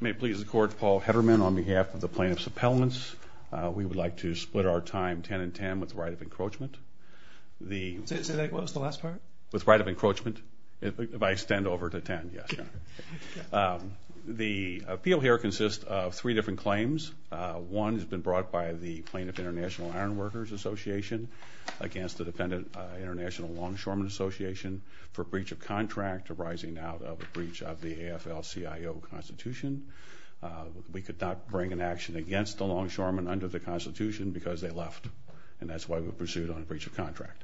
May it please the Court, Paul Hederman on behalf of the Plaintiffs' Appellants. We would like to split our time 10 and 10 with right of encroachment. Say that again, what was the last part? With right of encroachment. If I extend over to 10, yes. The appeal here consists of three different claims. One has been brought by the Plaintiff International Ironworkers Association against the Defendant International Longshoremen Association for breach of contract arising out of a breach of the AFL-CIO Constitution. We could not bring an action against the longshoremen under the Constitution because they left, and that's why we pursued on a breach of contract.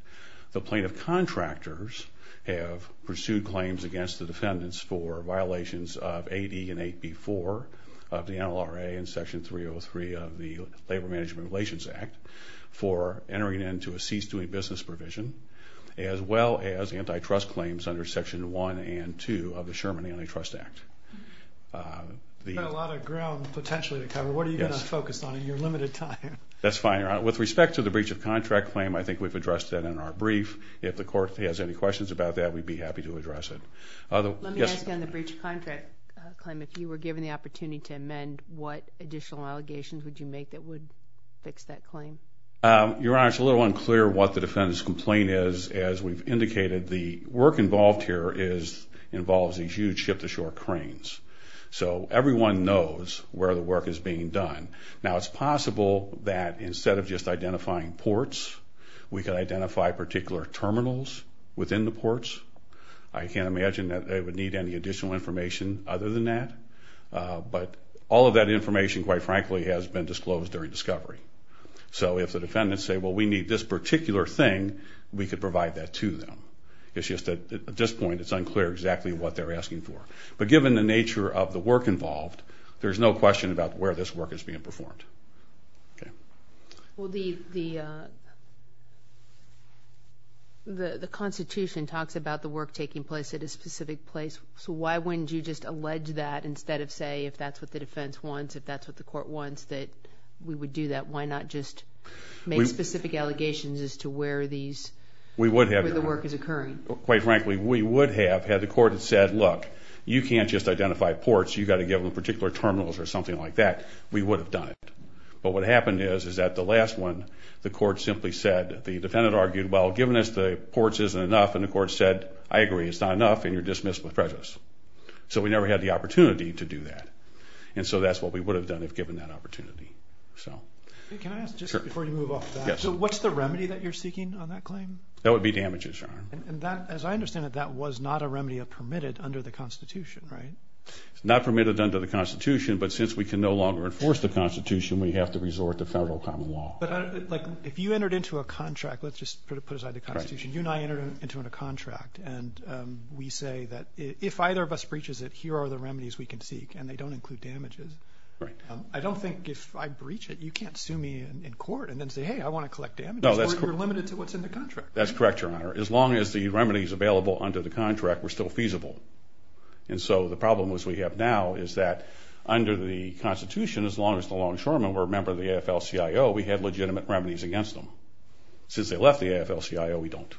The plaintiff contractors have pursued claims against the defendants for violations of AD and 8B-4 of the NLRA and Section 303 of the Labor Management Relations Act for entering into a cease-doing business provision, as well as antitrust claims under Sections 1 and 2 of the Sherman Antitrust Act. You've got a lot of ground potentially to cover. What are you going to focus on in your limited time? That's fine, Your Honor. With respect to the breach of contract claim, I think we've addressed that in our brief. If the Court has any questions about that, we'd be happy to address it. Let me ask on the breach of contract claim, if you were given the opportunity to amend, what additional allegations would you make that would fix that claim? Your Honor, it's a little unclear what the defendant's complaint is. As we've indicated, the work involved here involves these huge ship-to-shore cranes. So everyone knows where the work is being done. Now, it's possible that instead of just identifying ports, we could identify particular terminals within the ports. I can't imagine that they would need any additional information other than that. But all of that information, quite frankly, has been disclosed during discovery. So if the defendants say, well, we need this particular thing, we could provide that to them. It's just that at this point, it's unclear exactly what they're asking for. But given the nature of the work involved, there's no question about where this work is being performed. Well, the Constitution talks about the work taking place at a specific place. So why wouldn't you just allege that instead of say, if that's what the defense wants, if that's what the Court wants, that we would do that? Why not just make specific allegations as to where the work is occurring? Quite frankly, we would have had the Court have said, look, you can't just identify ports. You've got to give them particular terminals or something like that. We would have done it. But what happened is that the last one, the Court simply said, the defendant argued, well, given us the ports isn't enough, and the Court said, I agree, it's not enough, and you're dismissed with prejudice. So we never had the opportunity to do that. And so that's what we would have done if given that opportunity. Can I ask, just before you move off of that, what's the remedy that you're seeking on that claim? That would be damages, Your Honor. As I understand it, that was not a remedy permitted under the Constitution, right? It's not permitted under the Constitution, but since we can no longer enforce the Constitution, we have to resort to federal common law. But, like, if you entered into a contract, let's just put aside the Constitution, you and I entered into a contract, and we say that if either of us breaches it, here are the remedies we can seek, and they don't include damages. Right. I don't think if I breach it, you can't sue me in court and then say, hey, I want to collect damages. No, that's correct. Or you're limited to what's in the contract. That's correct, Your Honor. As long as the remedies available under the contract were still feasible. And so the problem, as we have now, is that under the Constitution, as long as the longshoremen were a member of the AFL-CIO, we had legitimate remedies against them. Since they left the AFL-CIO, we don't.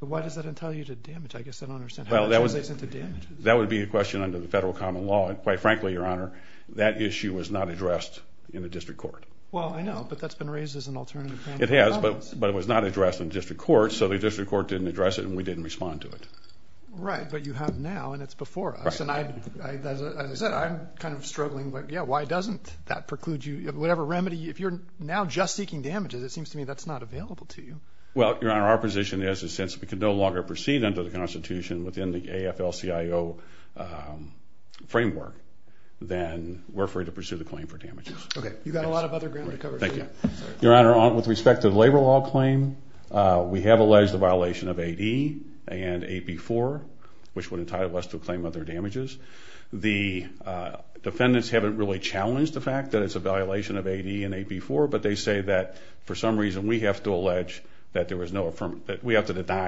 But why does that entail you to damage? I guess I don't understand how that translates into damages. That would be a question under the federal common law. And, quite frankly, Your Honor, that issue was not addressed in the district court. Well, I know, but that's been raised as an alternative claim to the problems. It has, but it was not addressed in the district court, so the district court didn't address it, and we didn't respond to it. Right, but you have now, and it's before us. Right. And, as I said, I'm kind of struggling, but, yeah, why doesn't that preclude you? Whatever remedy, if you're now just seeking damages, it seems to me that's not available to you. Well, Your Honor, our position is, since we can no longer proceed under the Constitution within the AFL-CIO framework, then we're free to pursue the claim for damages. Okay, you've got a lot of other ground to cover. Thank you. Your Honor, with respect to the labor law claim, we have alleged a violation of AD and AB 4, which would entitle us to a claim under damages. The defendants haven't really challenged the fact that it's a violation of AD and AB 4, but they say that, for some reason, we have to deny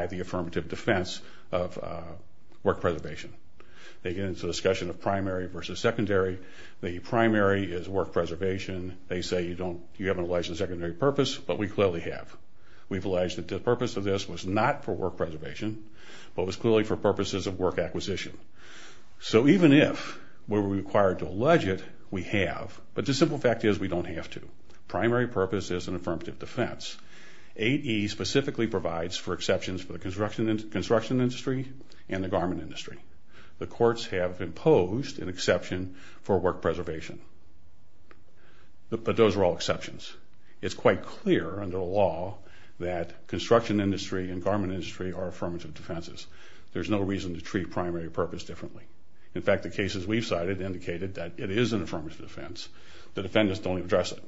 the affirmative defense of work preservation. They get into a discussion of primary versus secondary. The primary is work preservation. They say you haven't alleged a secondary purpose, but we clearly have. We've alleged that the purpose of this was not for work preservation, but was clearly for purposes of work acquisition. So even if we were required to allege it, we have, but the simple fact is we don't have to. Primary purpose is an affirmative defense. AD specifically provides for exceptions for the construction industry and the garment industry. The courts have imposed an exception for work preservation, but those are all exceptions. It's quite clear under the law that construction industry and garment industry are affirmative defenses. There's no reason to treat primary purpose differently. In fact, the cases we've cited indicated that it is an affirmative defense. The defendants don't address it.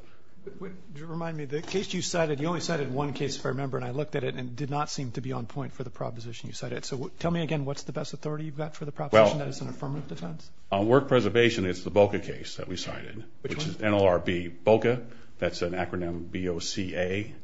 Remind me, the case you cited, you only cited one case, if I remember, and I looked at it and it did not seem to be on point for the proposition you cited. So tell me again what's the best authority you've got for the proposition that it's an affirmative defense? On work preservation, it's the BOCA case that we cited, which is NLRB BOCA. That's an acronym B-O-C-A,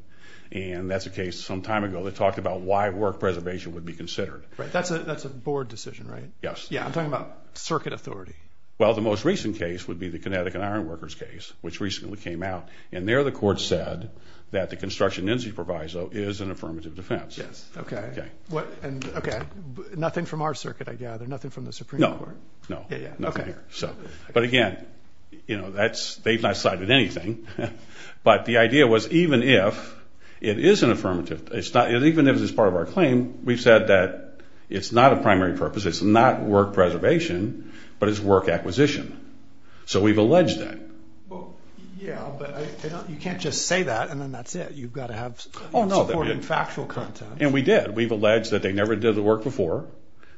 and that's a case some time ago that talked about why work preservation would be considered. Right, that's a board decision, right? Yes. Yeah, I'm talking about circuit authority. Well, the most recent case would be the Connecticut Ironworkers case, which recently came out, and there the court said that the construction industry proviso is an affirmative defense. Yes. Okay. Okay. Nothing from our circuit, I gather? Nothing from the Supreme Court? No, no. Yeah, yeah. Okay. But again, they've not cited anything, but the idea was even if it is an affirmative, even if it's part of our claim, we've said that it's not a primary purpose, it's not work preservation, but it's work acquisition. So we've alleged that. Well, yeah, but you can't just say that and then that's it. You've got to have support in factual context. And we did. We've alleged that they never did the work before,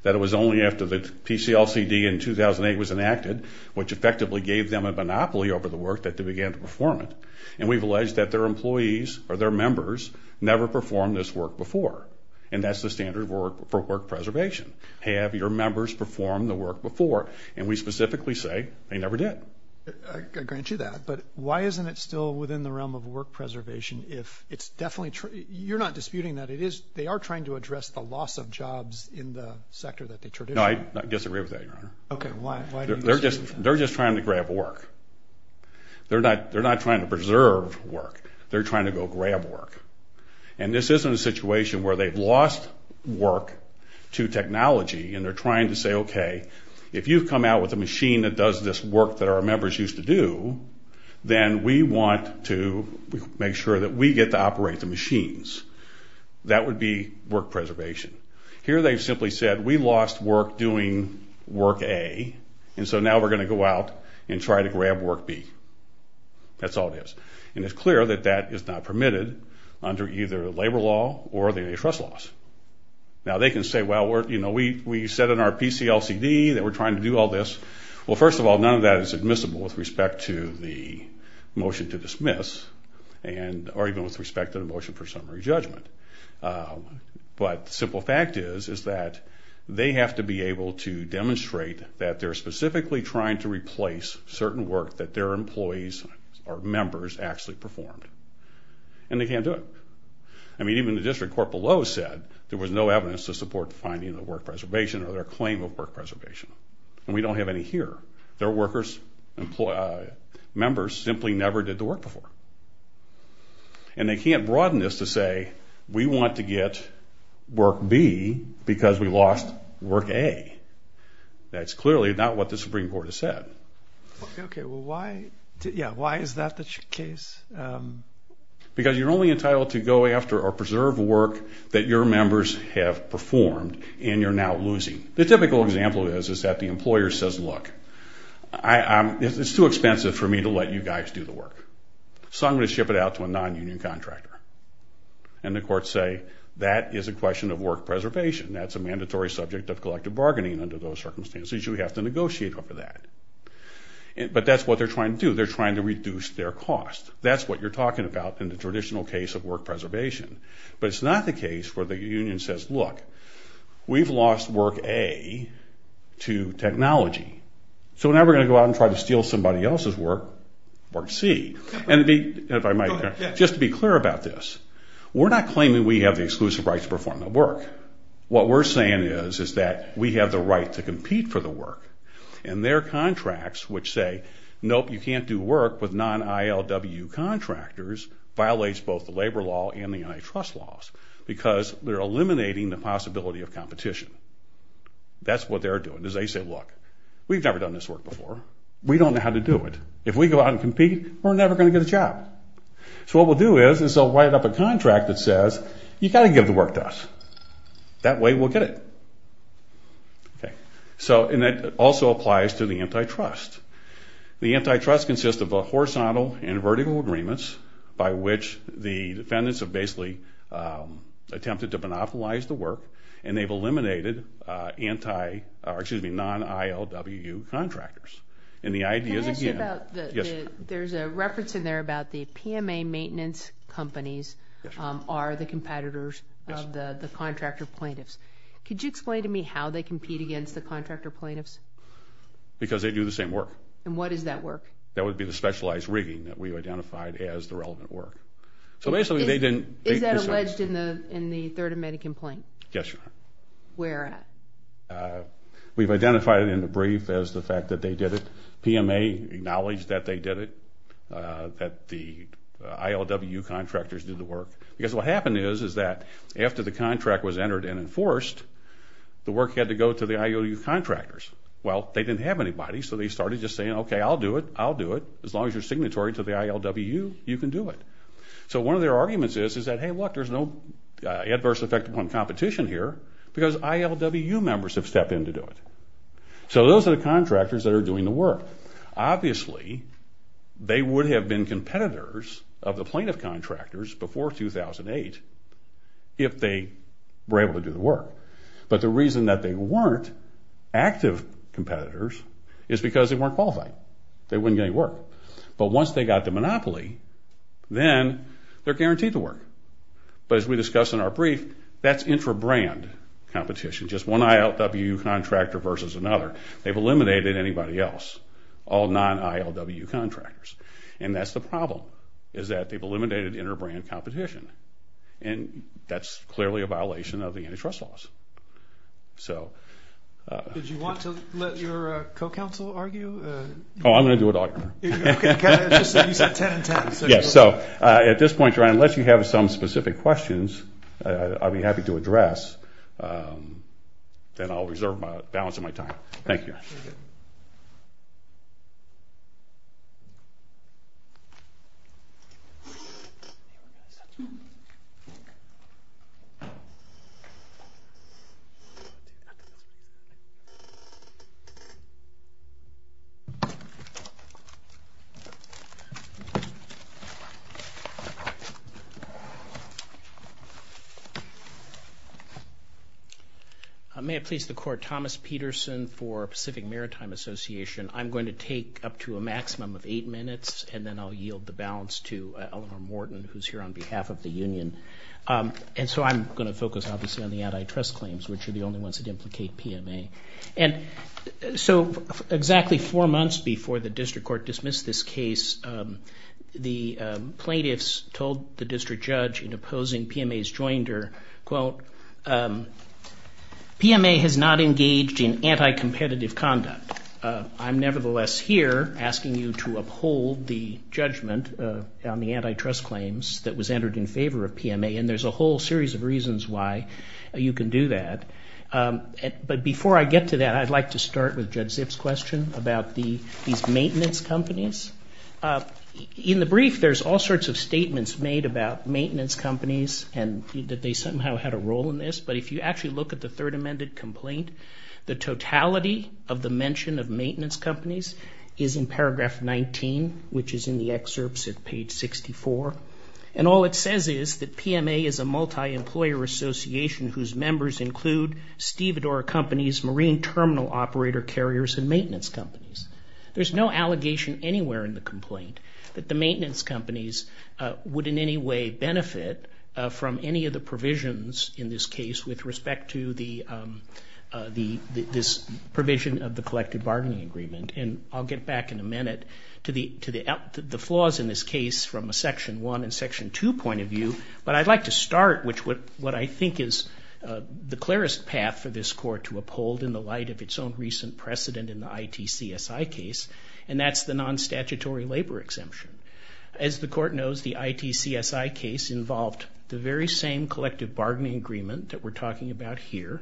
that it was only after the PCLCD in 2008 was enacted, which effectively gave them a monopoly over the work, that they began to perform it. And we've alleged that their employees or their members never performed this work before, and that's the standard for work preservation. Have your members performed the work before? And we specifically say they never did. I grant you that. Yes, but why isn't it still within the realm of work preservation if it's definitely true? You're not disputing that. They are trying to address the loss of jobs in the sector that they traditionally are. No, I disagree with that, Your Honor. Okay. Why do you disagree with that? They're just trying to grab work. They're not trying to preserve work. They're trying to go grab work. And this isn't a situation where they've lost work to technology, and they're trying to say, okay, if you've come out with a machine that does this work that our members used to do, then we want to make sure that we get to operate the machines. That would be work preservation. Here they've simply said, we lost work doing work A, and so now we're going to go out and try to grab work B. That's all it is. And it's clear that that is not permitted under either labor law or the trust laws. Now, they can say, well, we said in our PCLCD that we're trying to do all this. Well, first of all, none of that is admissible with respect to the motion to dismiss or even with respect to the motion for summary judgment. But the simple fact is that they have to be able to demonstrate that they're specifically trying to replace certain work that their employees or members actually performed. And they can't do it. I mean, even the district court below said there was no evidence to support the finding of the work preservation or their claim of work preservation. And we don't have any here. Their workers, members simply never did the work before. And they can't broaden this to say, we want to get work B because we lost work A. That's clearly not what the Supreme Court has said. Okay, well, why is that the case? Because you're only entitled to go after or preserve work that your members have performed and you're now losing. The typical example is that the employer says, look, it's too expensive for me to let you guys do the work, so I'm going to ship it out to a non-union contractor. And the courts say, that is a question of work preservation. That's a mandatory subject of collective bargaining under those circumstances. You have to negotiate over that. But that's what they're trying to do. That's what you're talking about in the traditional case of work preservation. But it's not the case where the union says, look, we've lost work A to technology, so now we're going to go out and try to steal somebody else's work, work C. And if I might, just to be clear about this, we're not claiming we have the exclusive right to perform the work. What we're saying is that we have the right to compete for the work. And their contracts, which say, nope, you can't do work with non-ILW contractors, violates both the labor law and the antitrust laws because they're eliminating the possibility of competition. That's what they're doing is they say, look, we've never done this work before. We don't know how to do it. If we go out and compete, we're never going to get a job. So what we'll do is they'll write up a contract that says, you've got to give the work to us. That way we'll get it. And that also applies to the antitrust. The antitrust consists of a horizontal and vertical agreements by which the defendants have basically attempted to monopolize the work, and they've eliminated non-ILW contractors. Can I ask you about, there's a reference in there about the PMA maintenance companies are the competitors of the contractor plaintiffs. Could you explain to me how they compete against the contractor plaintiffs? Because they do the same work. And what is that work? That would be the specialized rigging that we've identified as the relevant work. Is that alleged in the Third Amendment complaint? Yes, Your Honor. Where at? We've identified it in the brief as the fact that they did it. PMA acknowledged that they did it, that the ILW contractors did the work. Because what happened is that after the contract was entered and enforced, the work had to go to the ILW contractors. Well, they didn't have anybody, so they started just saying, okay, I'll do it, I'll do it. As long as you're signatory to the ILW, you can do it. So one of their arguments is that, hey, look, there's no adverse effect on competition here because ILW members have stepped in to do it. So those are the contractors that are doing the work. Obviously, they would have been competitors of the plaintiff contractors before 2008 if they were able to do the work. But the reason that they weren't active competitors is because they weren't qualified. They wouldn't get any work. But once they got the monopoly, then they're guaranteed to work. But as we discussed in our brief, that's intra-brand competition, just one ILW contractor versus another. They've eliminated anybody else, all non-ILW contractors. And that's the problem, is that they've eliminated intra-brand competition. And that's clearly a violation of the antitrust laws. Did you want to let your co-counsel argue? Oh, I'm going to do it all. Okay. You said 10 and 10. Yes. So at this point, unless you have some specific questions, I'd be happy to address. Then I'll reserve my balance of my time. Thank you. May I please the court? Thomas Peterson for Pacific Maritime Association. I'm going to take up to a maximum of eight minutes, and then I'll yield the balance to Eleanor Morton, who's here on behalf of the union. And so I'm going to focus, obviously, on the antitrust claims, which are the only ones that implicate PMA. And so exactly four months before the district court dismissed this case, the plaintiffs told the district judge, in opposing PMA's joinder, quote, PMA has not engaged in anti-competitive conduct. I'm nevertheless here asking you to uphold the judgment on the antitrust claims that was entered in favor of PMA, and there's a whole series of reasons why you can do that. But before I get to that, I'd like to start with Judge Zipp's question about these maintenance companies. In the brief, there's all sorts of statements made about maintenance companies and that they somehow had a role in this. But if you actually look at the third amended complaint, the totality of the mention of maintenance companies is in paragraph 19, which is in the excerpts at page 64. And all it says is that PMA is a multi-employer association whose members include Stevedore Companies, Marine Terminal Operator Carriers, and maintenance companies. There's no allegation anywhere in the complaint that the maintenance companies would in any way benefit from any of the provisions in this case with respect to this provision of the collected bargaining agreement. And I'll get back in a minute to the flaws in this case from a section 1 and section 2 point of view. But I'd like to start with what I think is the clearest path for this court to uphold in the light of its own recent precedent in the ITCSI case, and that's the non-statutory labor exemption. As the court knows, the ITCSI case involved the very same collective bargaining agreement that we're talking about here,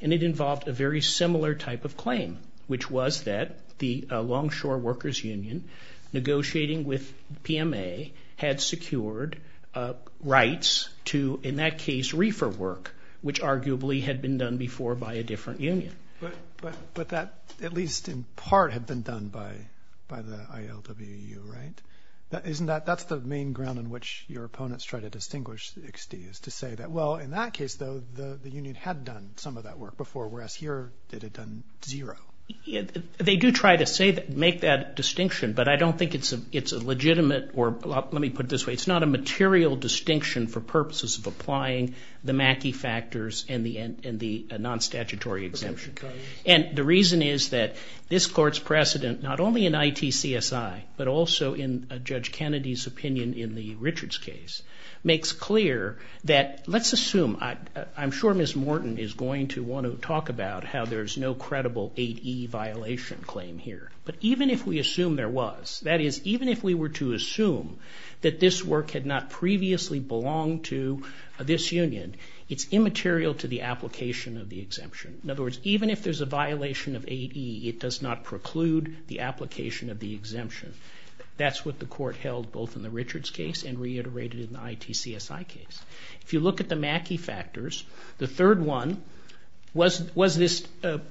and it involved a very similar type of claim, which was that the Longshore Workers Union, negotiating with PMA, had secured rights to, in that case, reefer work, which arguably had been done before by a different union. But that, at least in part, had been done by the ILWU, right? That's the main ground on which your opponents try to distinguish X.D., is to say that, well, in that case, though, the union had done some of that work before, whereas here it had done zero. They do try to make that distinction, but I don't think it's a legitimate or, let me put it this way, it's not a material distinction for purposes of applying the Mackey factors and the non-statutory exemption. And the reason is that this court's precedent, not only in ITCSI, but also in Judge Kennedy's opinion in the Richards case, makes clear that, let's assume, I'm sure Ms. Morton is going to want to talk about how there's no credible 8E violation claim here. But even if we assume there was, that is, even if we were to assume that this work had not previously belonged to this union, it's immaterial to the application of the exemption. In other words, even if there's a violation of 8E, it does not preclude the application of the exemption. That's what the court held both in the Richards case and reiterated in the ITCSI case. If you look at the Mackey factors, the third one was this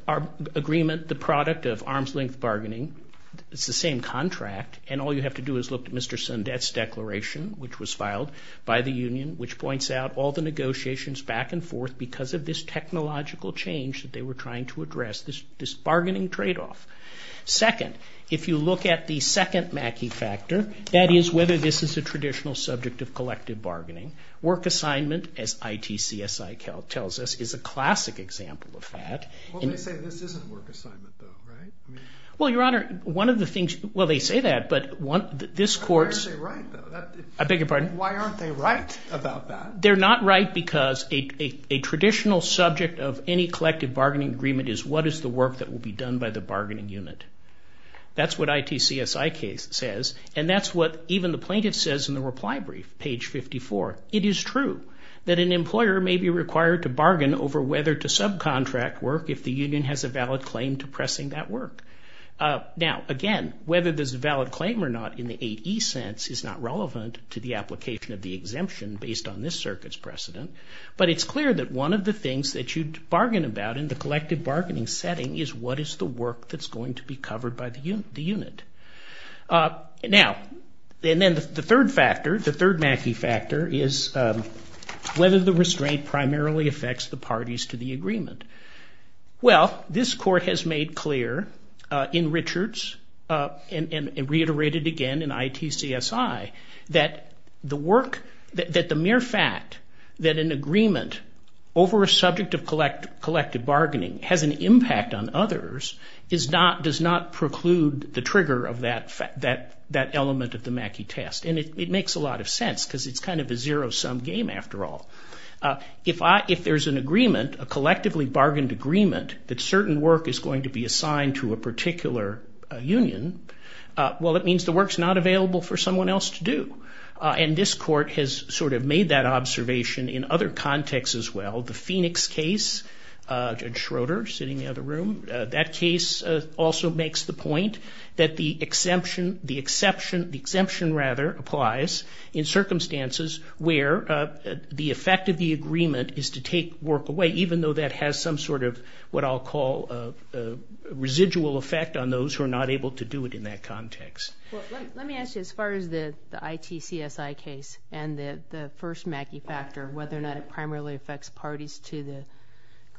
agreement, the product of arm's-length bargaining. It's the same contract, and all you have to do is look at Mr. Sundet's declaration, which was filed by the union, which points out all the negotiations back and forth because of this technological change that they were trying to address, this bargaining trade-off. Second, if you look at the second Mackey factor, that is whether this is a traditional subject of collective bargaining. Work assignment, as ITCSI tells us, is a classic example of that. Well, they say this isn't work assignment, though, right? Well, Your Honor, one of the things, well, they say that, but this court's... Why aren't they right, though? I beg your pardon? Why aren't they right about that? They're not right because a traditional subject of any collective bargaining agreement is what is the work that will be done by the bargaining unit. That's what ITCSI says, and that's what even the plaintiff says in the reply brief, page 54. It is true that an employer may be required to bargain over whether to subcontract work if the union has a valid claim to pressing that work. Now, again, whether there's a valid claim or not in the 8E sense is not relevant to the application of the exemption based on this circuit's precedent, but it's clear that one of the things that you'd bargain about in the collective bargaining setting is what is the work that's going to be covered by the unit. Now, and then the third factor, the third Mackey factor, is whether the restraint primarily affects the parties to the agreement. Well, this court has made clear in Richards and reiterated again in ITCSI that the mere fact that an agreement over a subject of collective bargaining has an impact on others does not preclude the trigger of that element of the Mackey test, and it makes a lot of sense because it's kind of a zero-sum game after all. If there's an agreement, a collectively bargained agreement, that certain work is going to be assigned to a particular union, well, it means the work's not available for someone else to do, and this court has sort of made that observation in other contexts as well. The Phoenix case, Judge Schroeder sitting in the other room, that case also makes the point that the exemption applies in circumstances where the effect of the agreement is to take work away, even though that has some sort of what I'll call a residual effect on those who are not able to do it in that context. Let me ask you, as far as the ITCSI case and the first Mackey factor, whether or not it primarily affects parties to the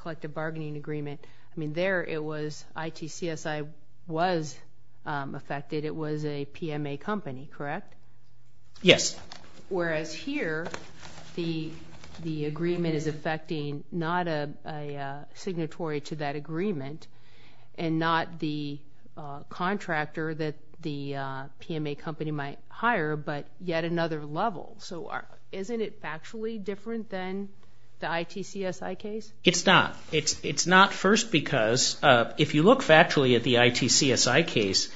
collective bargaining agreement, I mean, there ITCSI was affected. It was a PMA company, correct? Yes. Whereas here the agreement is affecting not a signatory to that agreement and not the contractor that the PMA company might hire, but yet another level. So isn't it factually different than the ITCSI case? It's not. It's not first because if you look factually at the ITCSI case,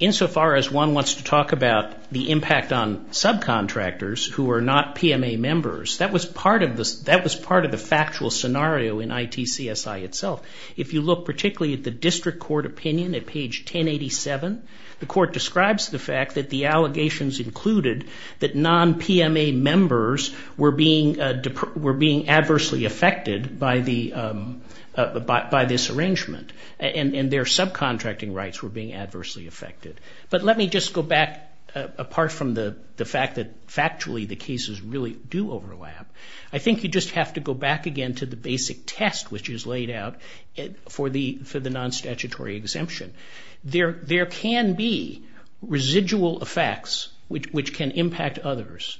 insofar as one wants to talk about the impact on subcontractors who are not PMA members, that was part of the factual scenario in ITCSI itself. If you look particularly at the district court opinion at page 1087, the court describes the fact that the allegations included that non-PMA members were being adversely affected by this arrangement and their subcontracting rights were being adversely affected. But let me just go back apart from the fact that factually the cases really do overlap. I think you just have to go back again to the basic test which is laid out for the non-statutory exemption. There can be residual effects which can impact others,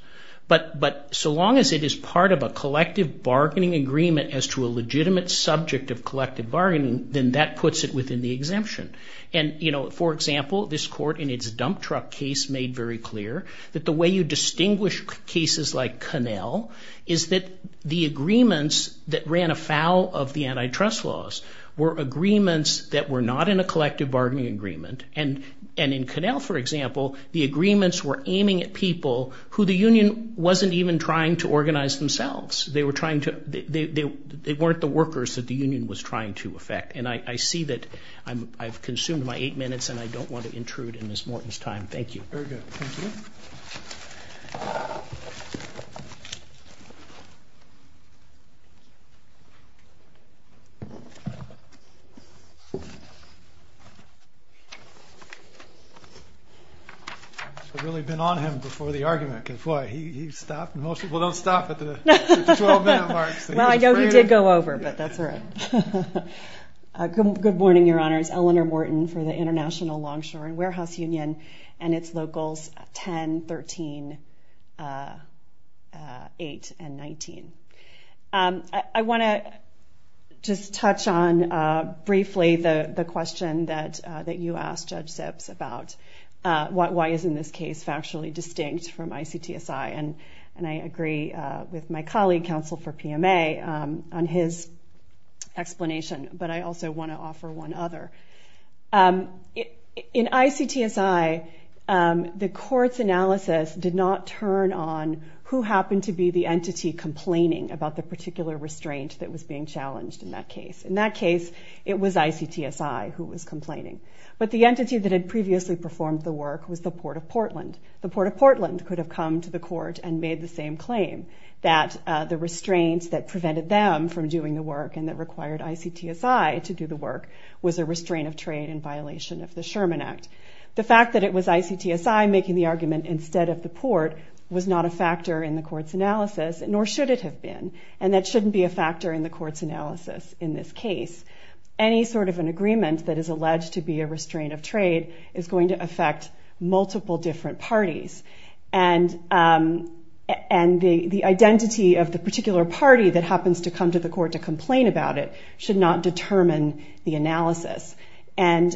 but so long as it is part of a collective bargaining agreement as to a legitimate subject of collective bargaining, then that puts it within the exemption. And, you know, for example, this court in its dump truck case made very clear that the way you distinguish cases like Connell is that the agreements that ran afoul of the antitrust laws were agreements that were not in a collective bargaining agreement. And in Connell, for example, the agreements were aiming at people who the union wasn't even trying to organize themselves. They weren't the workers that the union was trying to affect. And I see that I've consumed my eight minutes and I don't want to intrude in Ms. Morton's time. Thank you. Very good. Thank you. I've really been on him before the argument because, boy, he stopped. Most people don't stop at the 12-minute mark. Well, I know he did go over, but that's all right. Good morning, Your Honors. My name is Eleanor Morton for the International Longshore and Warehouse Union, and it's Locals 10, 13, 8, and 19. I want to just touch on briefly the question that you asked, Judge Zips, about why isn't this case factually distinct from ICTSI? And I agree with my colleague, counsel for PMA, on his explanation, but I also want to offer one other. In ICTSI, the court's analysis did not turn on who happened to be the entity complaining about the particular restraint that was being challenged in that case. In that case, it was ICTSI who was complaining. But the entity that had previously performed the work was the Port of Portland. The Port of Portland could have come to the court and made the same claim, that the restraints that prevented them from doing the work and that required ICTSI to do the work was a restraint of trade in violation of the Sherman Act. The fact that it was ICTSI making the argument instead of the Port was not a factor in the court's analysis, nor should it have been, and that shouldn't be a factor in the court's analysis in this case. Any sort of an agreement that is alleged to be a restraint of trade is going to affect multiple different parties, and the identity of the particular party that happens to come to the court to complain about it should not determine the analysis. And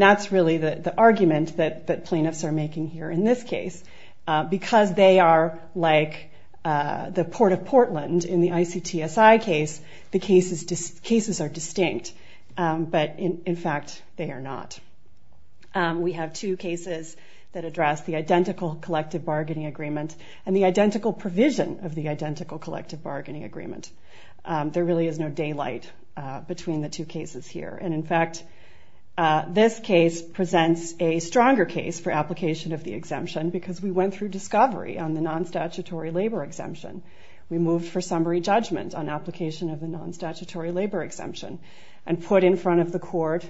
that's really the argument that plaintiffs are making here in this case. Because they are like the Port of Portland in the ICTSI case, the cases are distinct, but in fact they are not. We have two cases that address the identical collective bargaining agreement and the identical provision of the identical collective bargaining agreement. There really is no daylight between the two cases here. And in fact, this case presents a stronger case for application of the exemption because we went through discovery on the non-statutory labor exemption. We moved for summary judgment on application of the non-statutory labor exemption and put in front of the court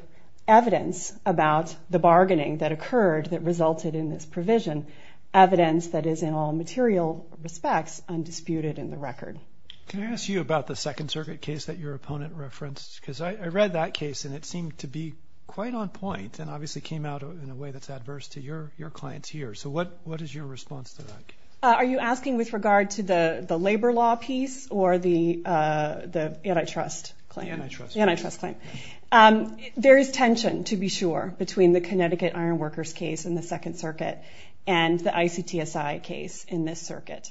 evidence about the bargaining that occurred that resulted in this provision, evidence that is in all material respects undisputed in the record. Can I ask you about the Second Circuit case that your opponent referenced? Because I read that case and it seemed to be quite on point and obviously came out in a way that's adverse to your clients here. So what is your response to that case? Are you asking with regard to the labor law piece or the antitrust claim? The antitrust claim. There is tension, to be sure, between the Connecticut Ironworkers case in the Second Circuit and the ICTSI case in this circuit.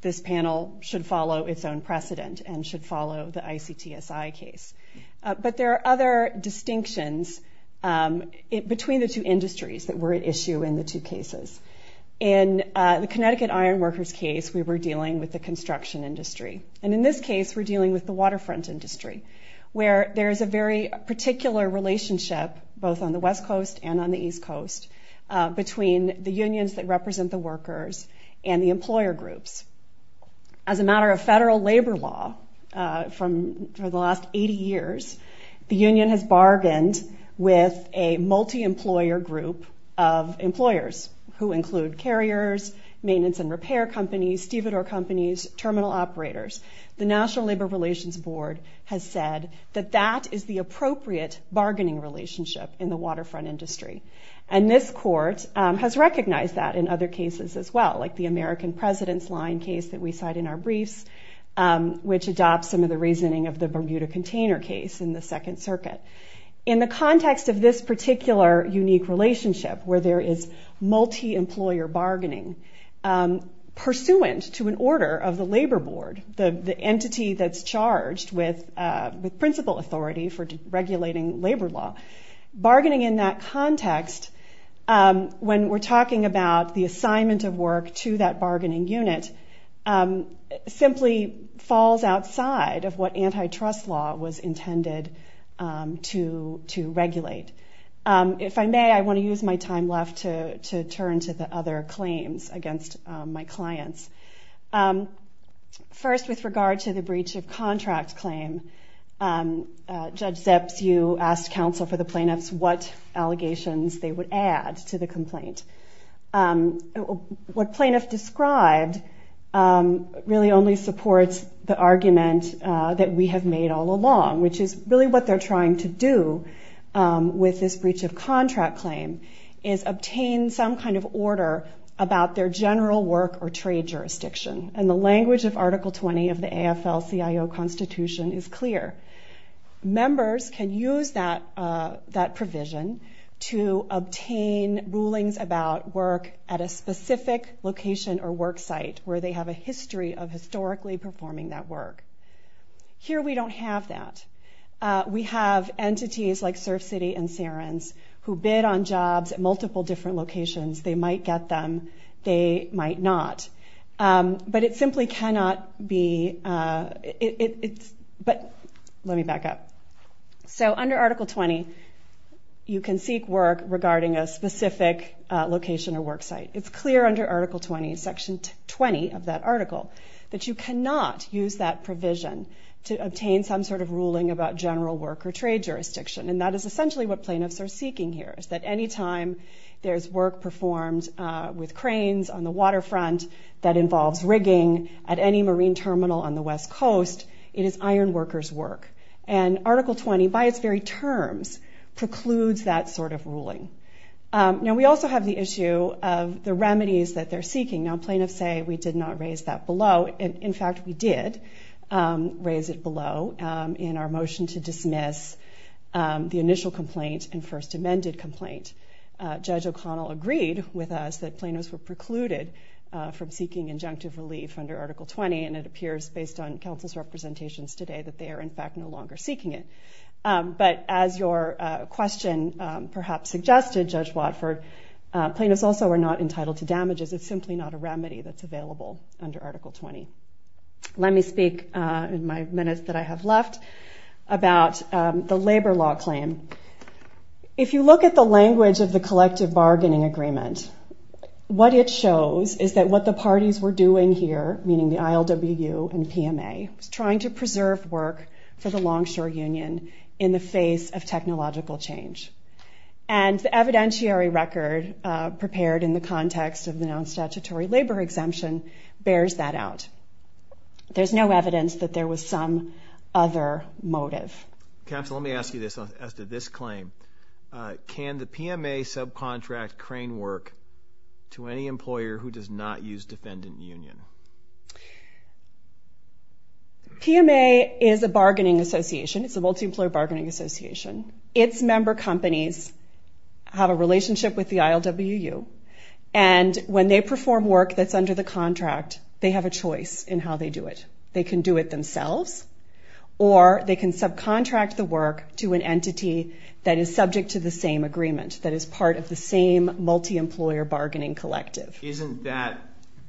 This panel should follow its own precedent and should follow the ICTSI case. But there are other distinctions between the two industries that were at issue in the two cases. In the Connecticut Ironworkers case, we were dealing with the construction industry. And in this case, we're dealing with the waterfront industry, where there is a very particular relationship, both on the West Coast and on the East Coast, between the unions that represent the workers and the employer groups. As a matter of federal labor law, for the last 80 years, the union has bargained with a multi-employer group of employers, who include carriers, maintenance and repair companies, stevedore companies, terminal operators. The National Labor Relations Board has said that that is the appropriate bargaining relationship in the waterfront industry. And this court has recognized that in other cases as well, like the American President's line case that we cite in our briefs, which adopts some of the reasoning of the Bermuda container case in the Second Circuit. In the context of this particular unique relationship, where there is multi-employer bargaining, pursuant to an order of the labor board, the entity that's charged with principal authority for regulating labor law. Bargaining in that context, when we're talking about the assignment of work to that bargaining unit, simply falls outside of what antitrust law was intended to regulate. If I may, I want to use my time left to turn to the other claims against my clients. First, with regard to the breach of contract claim, Judge Zeps, you asked counsel for the plaintiffs what allegations they would add to the complaint. What plaintiff described really only supports the argument that we have made all along, which is really what they're trying to do with this breach of contract claim, is obtain some kind of order about their general work or trade jurisdiction. The language of Article 20 of the AFL-CIO Constitution is clear. Members can use that provision to obtain rulings about work at a specific location or work site, where they have a history of historically performing that work. Here we don't have that. We have entities like Surf City and Sarans who bid on jobs at multiple different locations. They might get them. They might not. But it simply cannot be... But let me back up. So under Article 20, you can seek work regarding a specific location or work site. It's clear under Article 20, Section 20 of that article, that you cannot use that provision to obtain some sort of ruling about general work or trade jurisdiction. And that is essentially what plaintiffs are seeking here, is that any time there's work performed with cranes on the waterfront that involves rigging at any marine terminal on the West Coast, it is ironworkers' work. And Article 20, by its very terms, precludes that sort of ruling. Now, we also have the issue of the remedies that they're seeking. Now, plaintiffs say we did not raise that below. In fact, we did raise it below in our motion to dismiss the initial complaint and first amended complaint. Judge O'Connell agreed with us that plaintiffs were precluded from seeking injunctive relief under Article 20, and it appears, based on counsel's representations today, that they are, in fact, no longer seeking it. plaintiffs also are not entitled to damages. It's simply not a remedy that's available under Article 20. Let me speak in my minutes that I have left about the labor law claim. If you look at the language of the collective bargaining agreement, what it shows is that what the parties were doing here, meaning the ILWU and PMA, was trying to preserve work for the Longshore Union in the face of technological change. And the evidentiary record prepared in the context of the non-statutory labor exemption bears that out. There's no evidence that there was some other motive. Counsel, let me ask you this as to this claim. Can the PMA subcontract crane work to any employer who does not use defendant union? PMA is a bargaining association. It's a multi-employer bargaining association. Its member companies have a relationship with the ILWU, and when they perform work that's under the contract, they have a choice in how they do it. They can do it themselves, or they can subcontract the work to an entity that is subject to the same agreement, that is part of the same multi-employer bargaining collective. Isn't that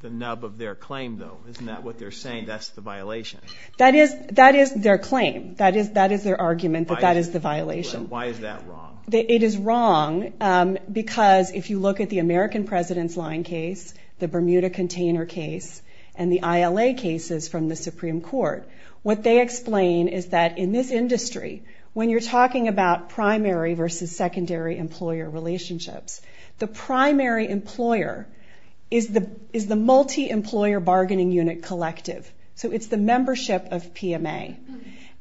the nub of their claim, though? Isn't that what they're saying, that's the violation? That is their claim. That is their argument, that that is the violation. And why is that wrong? It is wrong because if you look at the American President's line case, the Bermuda container case, and the ILA cases from the Supreme Court, what they explain is that in this industry, when you're talking about primary versus secondary employer relationships, the primary employer is the multi-employer bargaining unit collective. So it's the membership of PMA.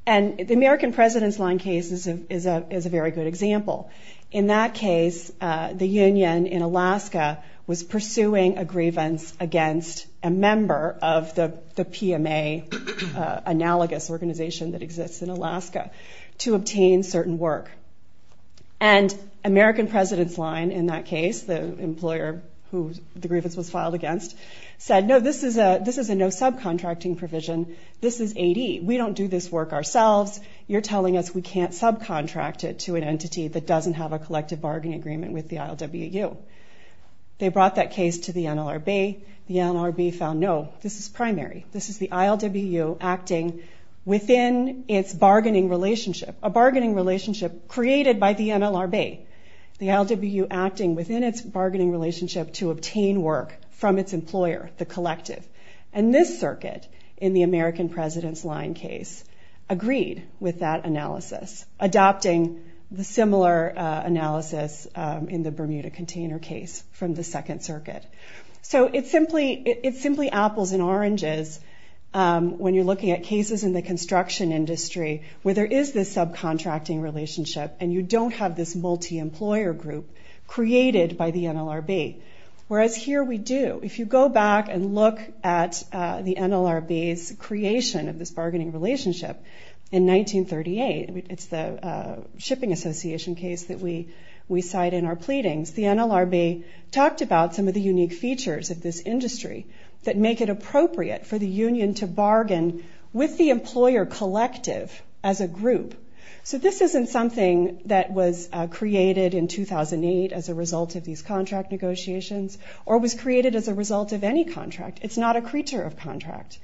And the American President's line case is a very good example. In that case, the union in Alaska was pursuing a grievance against a member of the PMA, an analogous organization that exists in Alaska, to obtain certain work. And American President's line, in that case, the employer who the grievance was filed against, said, no, this is a no-subcontracting provision, this is AD, we don't do this work ourselves, you're telling us we can't subcontract it to an entity that doesn't have a collective bargaining agreement with the ILWU. They brought that case to the NLRB. The NLRB found, no, this is primary. This is the ILWU acting within its bargaining relationship, a bargaining relationship created by the NLRB. The ILWU acting within its bargaining relationship to obtain work from its employer, the collective. And this circuit, in the American President's line case, agreed with that analysis, adopting the similar analysis in the Bermuda container case from the Second Circuit. So it's simply apples and oranges when you're looking at cases in the construction industry where there is this subcontracting relationship and you don't have this multi-employer group created by the NLRB. Whereas here we do. If you go back and look at the NLRB's creation of this bargaining relationship in 1938, it's the shipping association case that we cite in our pleadings, the NLRB talked about some of the unique features of this industry that make it appropriate for the union to bargain with the employer collective as a group. So this isn't something that was created in 2008 as a result of these contract negotiations or was created as a result of any contract. It's not a creature of contract.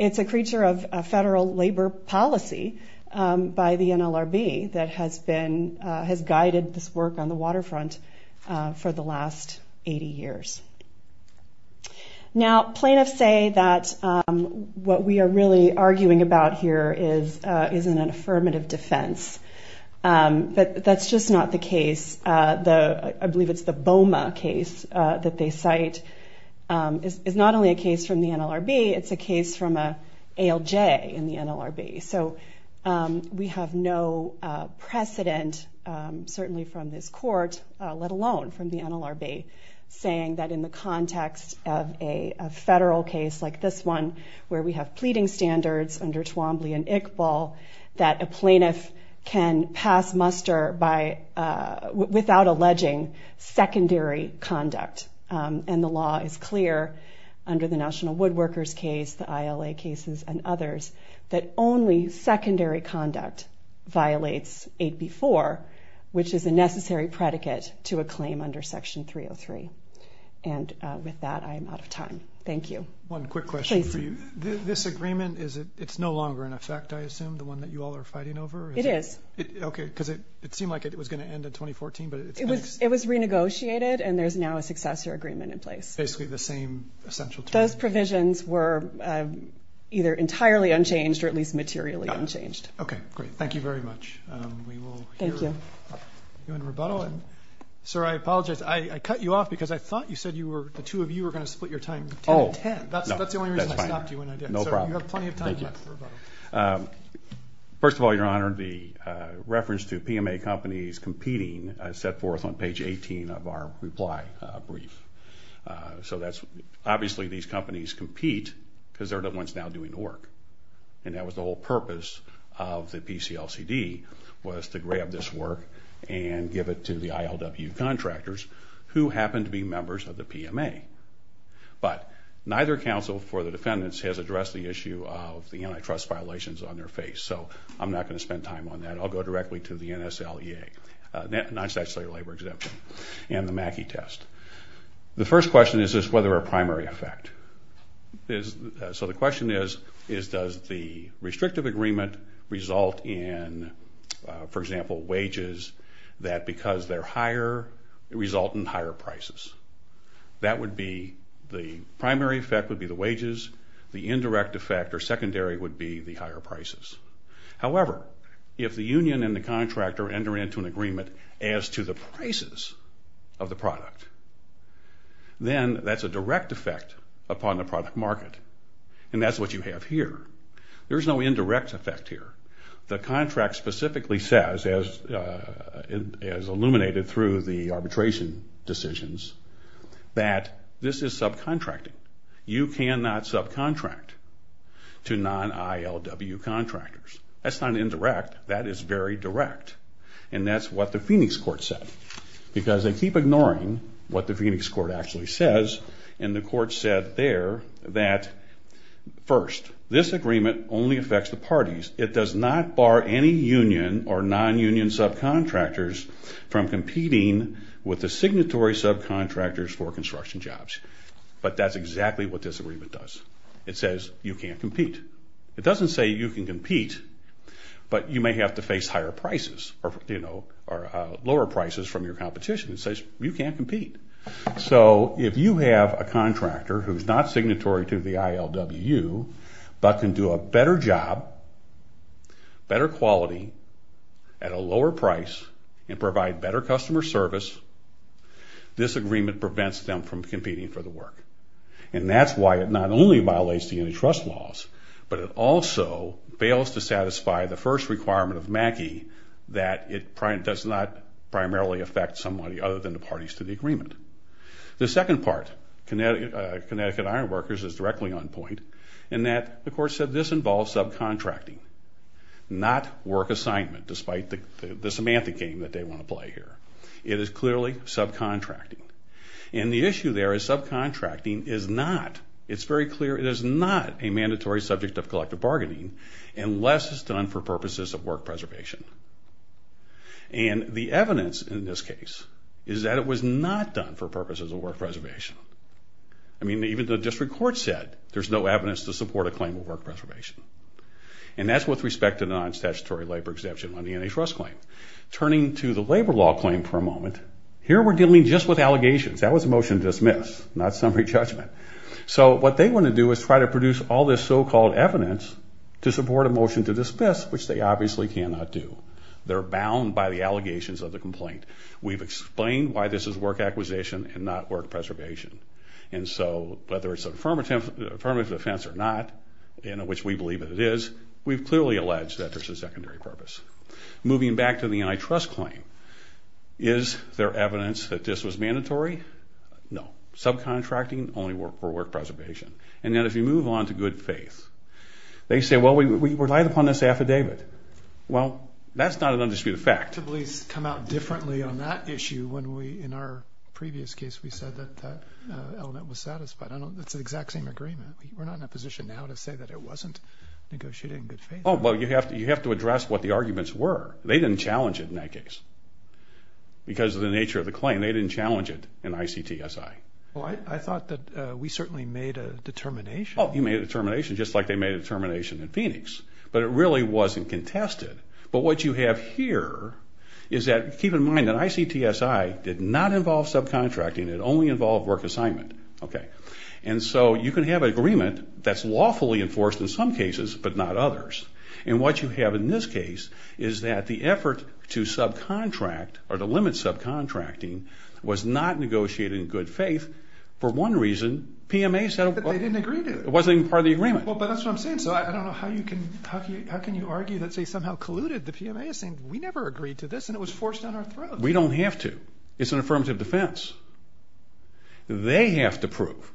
It's a creature of federal labor policy by the NLRB that has guided this work on the waterfront for the last 80 years. Now, plaintiffs say that what we are really arguing about here is an affirmative defense. But that's just not the case. I believe it's the Boma case that they cite is not only a case from the NLRB, it's a case from an ALJ in the NLRB. So we have no precedent, certainly from this court, let alone from the NLRB, saying that in the context of a federal case like this one where we have pleading standards under Twombly and Iqbal that a plaintiff can pass muster without alleging secondary conduct. And the law is clear under the National Woodworkers case, the ILA cases, and others, that only secondary conduct violates 8B4, which is a necessary predicate to a claim under Section 303. And with that, I am out of time. Thank you. One quick question for you. Please. So this agreement, it's no longer in effect, I assume, the one that you all are fighting over? It is. Okay, because it seemed like it was going to end in 2014. It was renegotiated, and there's now a successor agreement in place. Basically the same essential term. Those provisions were either entirely unchanged or at least materially unchanged. Okay, great. Thank you very much. We will hear you in rebuttal. Sir, I apologize. I cut you off because I thought you said the two of you were going to split your time 10 to 10. That's the only reason I stopped you when I did. No problem. So you have plenty of time left for rebuttal. First of all, Your Honor, the reference to PMA companies competing is set forth on page 18 of our reply brief. So obviously these companies compete because they're the ones now doing the work, and that was the whole purpose of the PCLCD, was to grab this work and give it to the ILW contractors, who happen to be members of the PMA. But neither counsel for the defendants has addressed the issue of the antitrust violations on their face, so I'm not going to spend time on that. I'll go directly to the NSLEA, non-statutory labor exemption, and the MACI test. The first question is, is this whether a primary effect? So the question is, does the restrictive agreement result in, for example, wages, that because they're higher result in higher prices? That would be the primary effect would be the wages, the indirect effect or secondary would be the higher prices. However, if the union and the contractor enter into an agreement as to the prices of the product, then that's a direct effect upon the product market, and that's what you have here. There's no indirect effect here. The contract specifically says, as illuminated through the arbitration decisions, that this is subcontracting. You cannot subcontract to non-ILW contractors. That's not indirect. That is very direct. And that's what the Phoenix court said, because they keep ignoring what the Phoenix court actually says, and the court said there that, first, this agreement only affects the parties. It does not bar any union or non-union subcontractors from competing with the signatory subcontractors for construction jobs. But that's exactly what this agreement does. It says you can't compete. It doesn't say you can compete, but you may have to face higher prices, or lower prices from your competition. It says you can't compete. So if you have a contractor who's not signatory to the ILW, but can do a better job, better quality, at a lower price, and provide better customer service, this agreement prevents them from competing for the work. And that's why it not only violates the antitrust laws, but it also fails to satisfy the first requirement of MACI that it does not primarily affect somebody other than the parties to the agreement. The second part, Connecticut Ironworkers, is directly on point, in that the court said this involves subcontracting, not work assignment, despite the semantic game that they want to play here. It is clearly subcontracting. And the issue there is subcontracting is not, it's very clear it is not a mandatory subject of collective bargaining unless it's done for purposes of work preservation. And the evidence in this case is that it was not done for purposes of work preservation. I mean, even the district court said there's no evidence to support a claim of work preservation. And that's with respect to non-statutory labor exemption on the antitrust claim. Turning to the labor law claim for a moment, here we're dealing just with allegations. That was a motion to dismiss, not summary judgment. So what they want to do is try to produce all this so-called evidence to support a motion to dismiss, which they obviously cannot do. They're bound by the allegations of the complaint. We've explained why this is work acquisition and not work preservation. And so whether it's an affirmative defense or not, in which we believe that it is, we've clearly alleged that there's a secondary purpose. Moving back to the antitrust claim, is there evidence that this was mandatory? No. Subcontracting only for work preservation. And then if you move on to good faith, they say, well, we relied upon this affidavit. Well, that's not an undisputed fact. Please come out differently on that issue when we, in our previous case, we said that that element was satisfied. That's the exact same agreement. We're not in a position now to say that it wasn't negotiated in good faith. Oh, well, you have to address what the arguments were. They didn't challenge it in that case. Because of the nature of the claim, they didn't challenge it in ICTSI. Well, I thought that we certainly made a determination. Oh, you made a determination, just like they made a determination in Phoenix. But it really wasn't contested. But what you have here is that, keep in mind, that ICTSI did not involve subcontracting. It only involved work assignment. Okay. And so you can have an agreement that's lawfully enforced in some cases but not others. And what you have in this case is that the effort to subcontract or to limit subcontracting was not negotiated in good faith. For one reason, PMA said... But they didn't agree to it. It wasn't even part of the agreement. Well, but that's what I'm saying. So I don't know how you can argue that they somehow colluded. The PMA is saying, we never agreed to this, and it was forced on our throat. We don't have to. It's an affirmative defense. They have to prove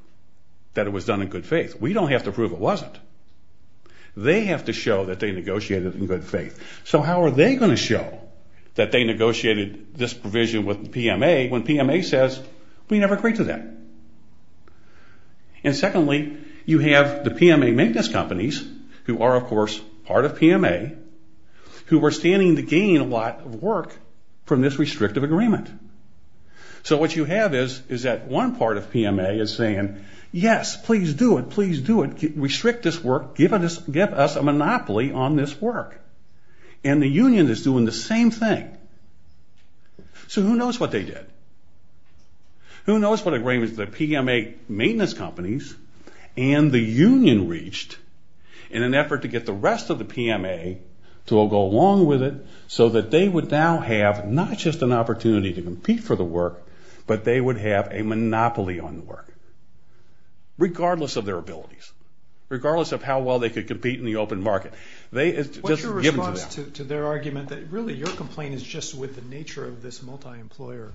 that it was done in good faith. We don't have to prove it wasn't. They have to show that they negotiated in good faith. So how are they going to show that they negotiated this provision with PMA when PMA says, we never agreed to that? And secondly, you have the PMA maintenance companies, who are, of course, part of PMA, who were standing to gain a lot of work from this restrictive agreement. So what you have is that one part of PMA is saying, yes, please do it. Please do it. Restrict this work. Give us a monopoly on this work. And the union is doing the same thing. So who knows what they did? Who knows what agreements the PMA maintenance companies and the union reached in an effort to get the rest of the PMA to go along with it so that they would now have not just an opportunity to compete for the work, but they would have a monopoly on the work, regardless of their abilities, regardless of how well they could compete in the open market. What's your response to their argument that, really, your complaint is just with the nature of this multi-employer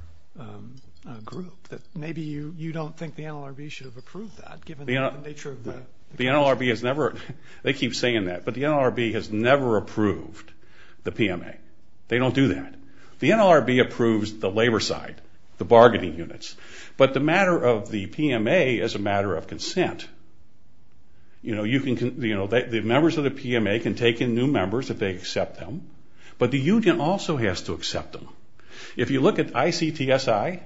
group, that maybe you don't think the NLRB should have approved that, given the nature of the question? They keep saying that, but the NLRB has never approved the PMA. They don't do that. The NLRB approves the labor side, the bargaining units. But the matter of the PMA is a matter of consent. You know, the members of the PMA can take in new members if they accept them, but the union also has to accept them. If you look at ICTSI,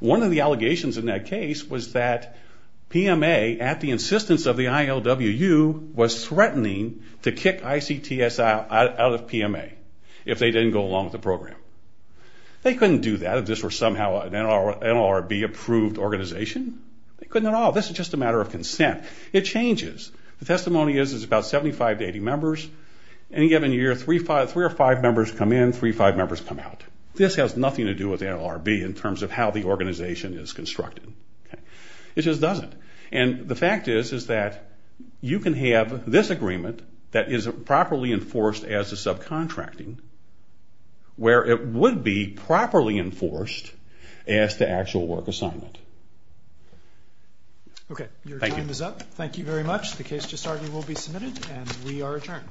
one of the allegations in that case was that PMA, at the insistence of the ILWU, was threatening to kick ICTSI out of PMA if they didn't go along with the program. They couldn't do that if this were somehow an NLRB-approved organization. They couldn't at all. This is just a matter of consent. It changes. The testimony is it's about 75 to 80 members. Any given year, three or five members come in, three or five members come out. This has nothing to do with the NLRB in terms of how the organization is constructed. It just doesn't. And the fact is is that you can have this agreement that is properly enforced as a subcontracting where it would be properly enforced as the actual work assignment. Okay, your time is up. Thank you very much. The case to start will be submitted, and we are adjourned. Thank you.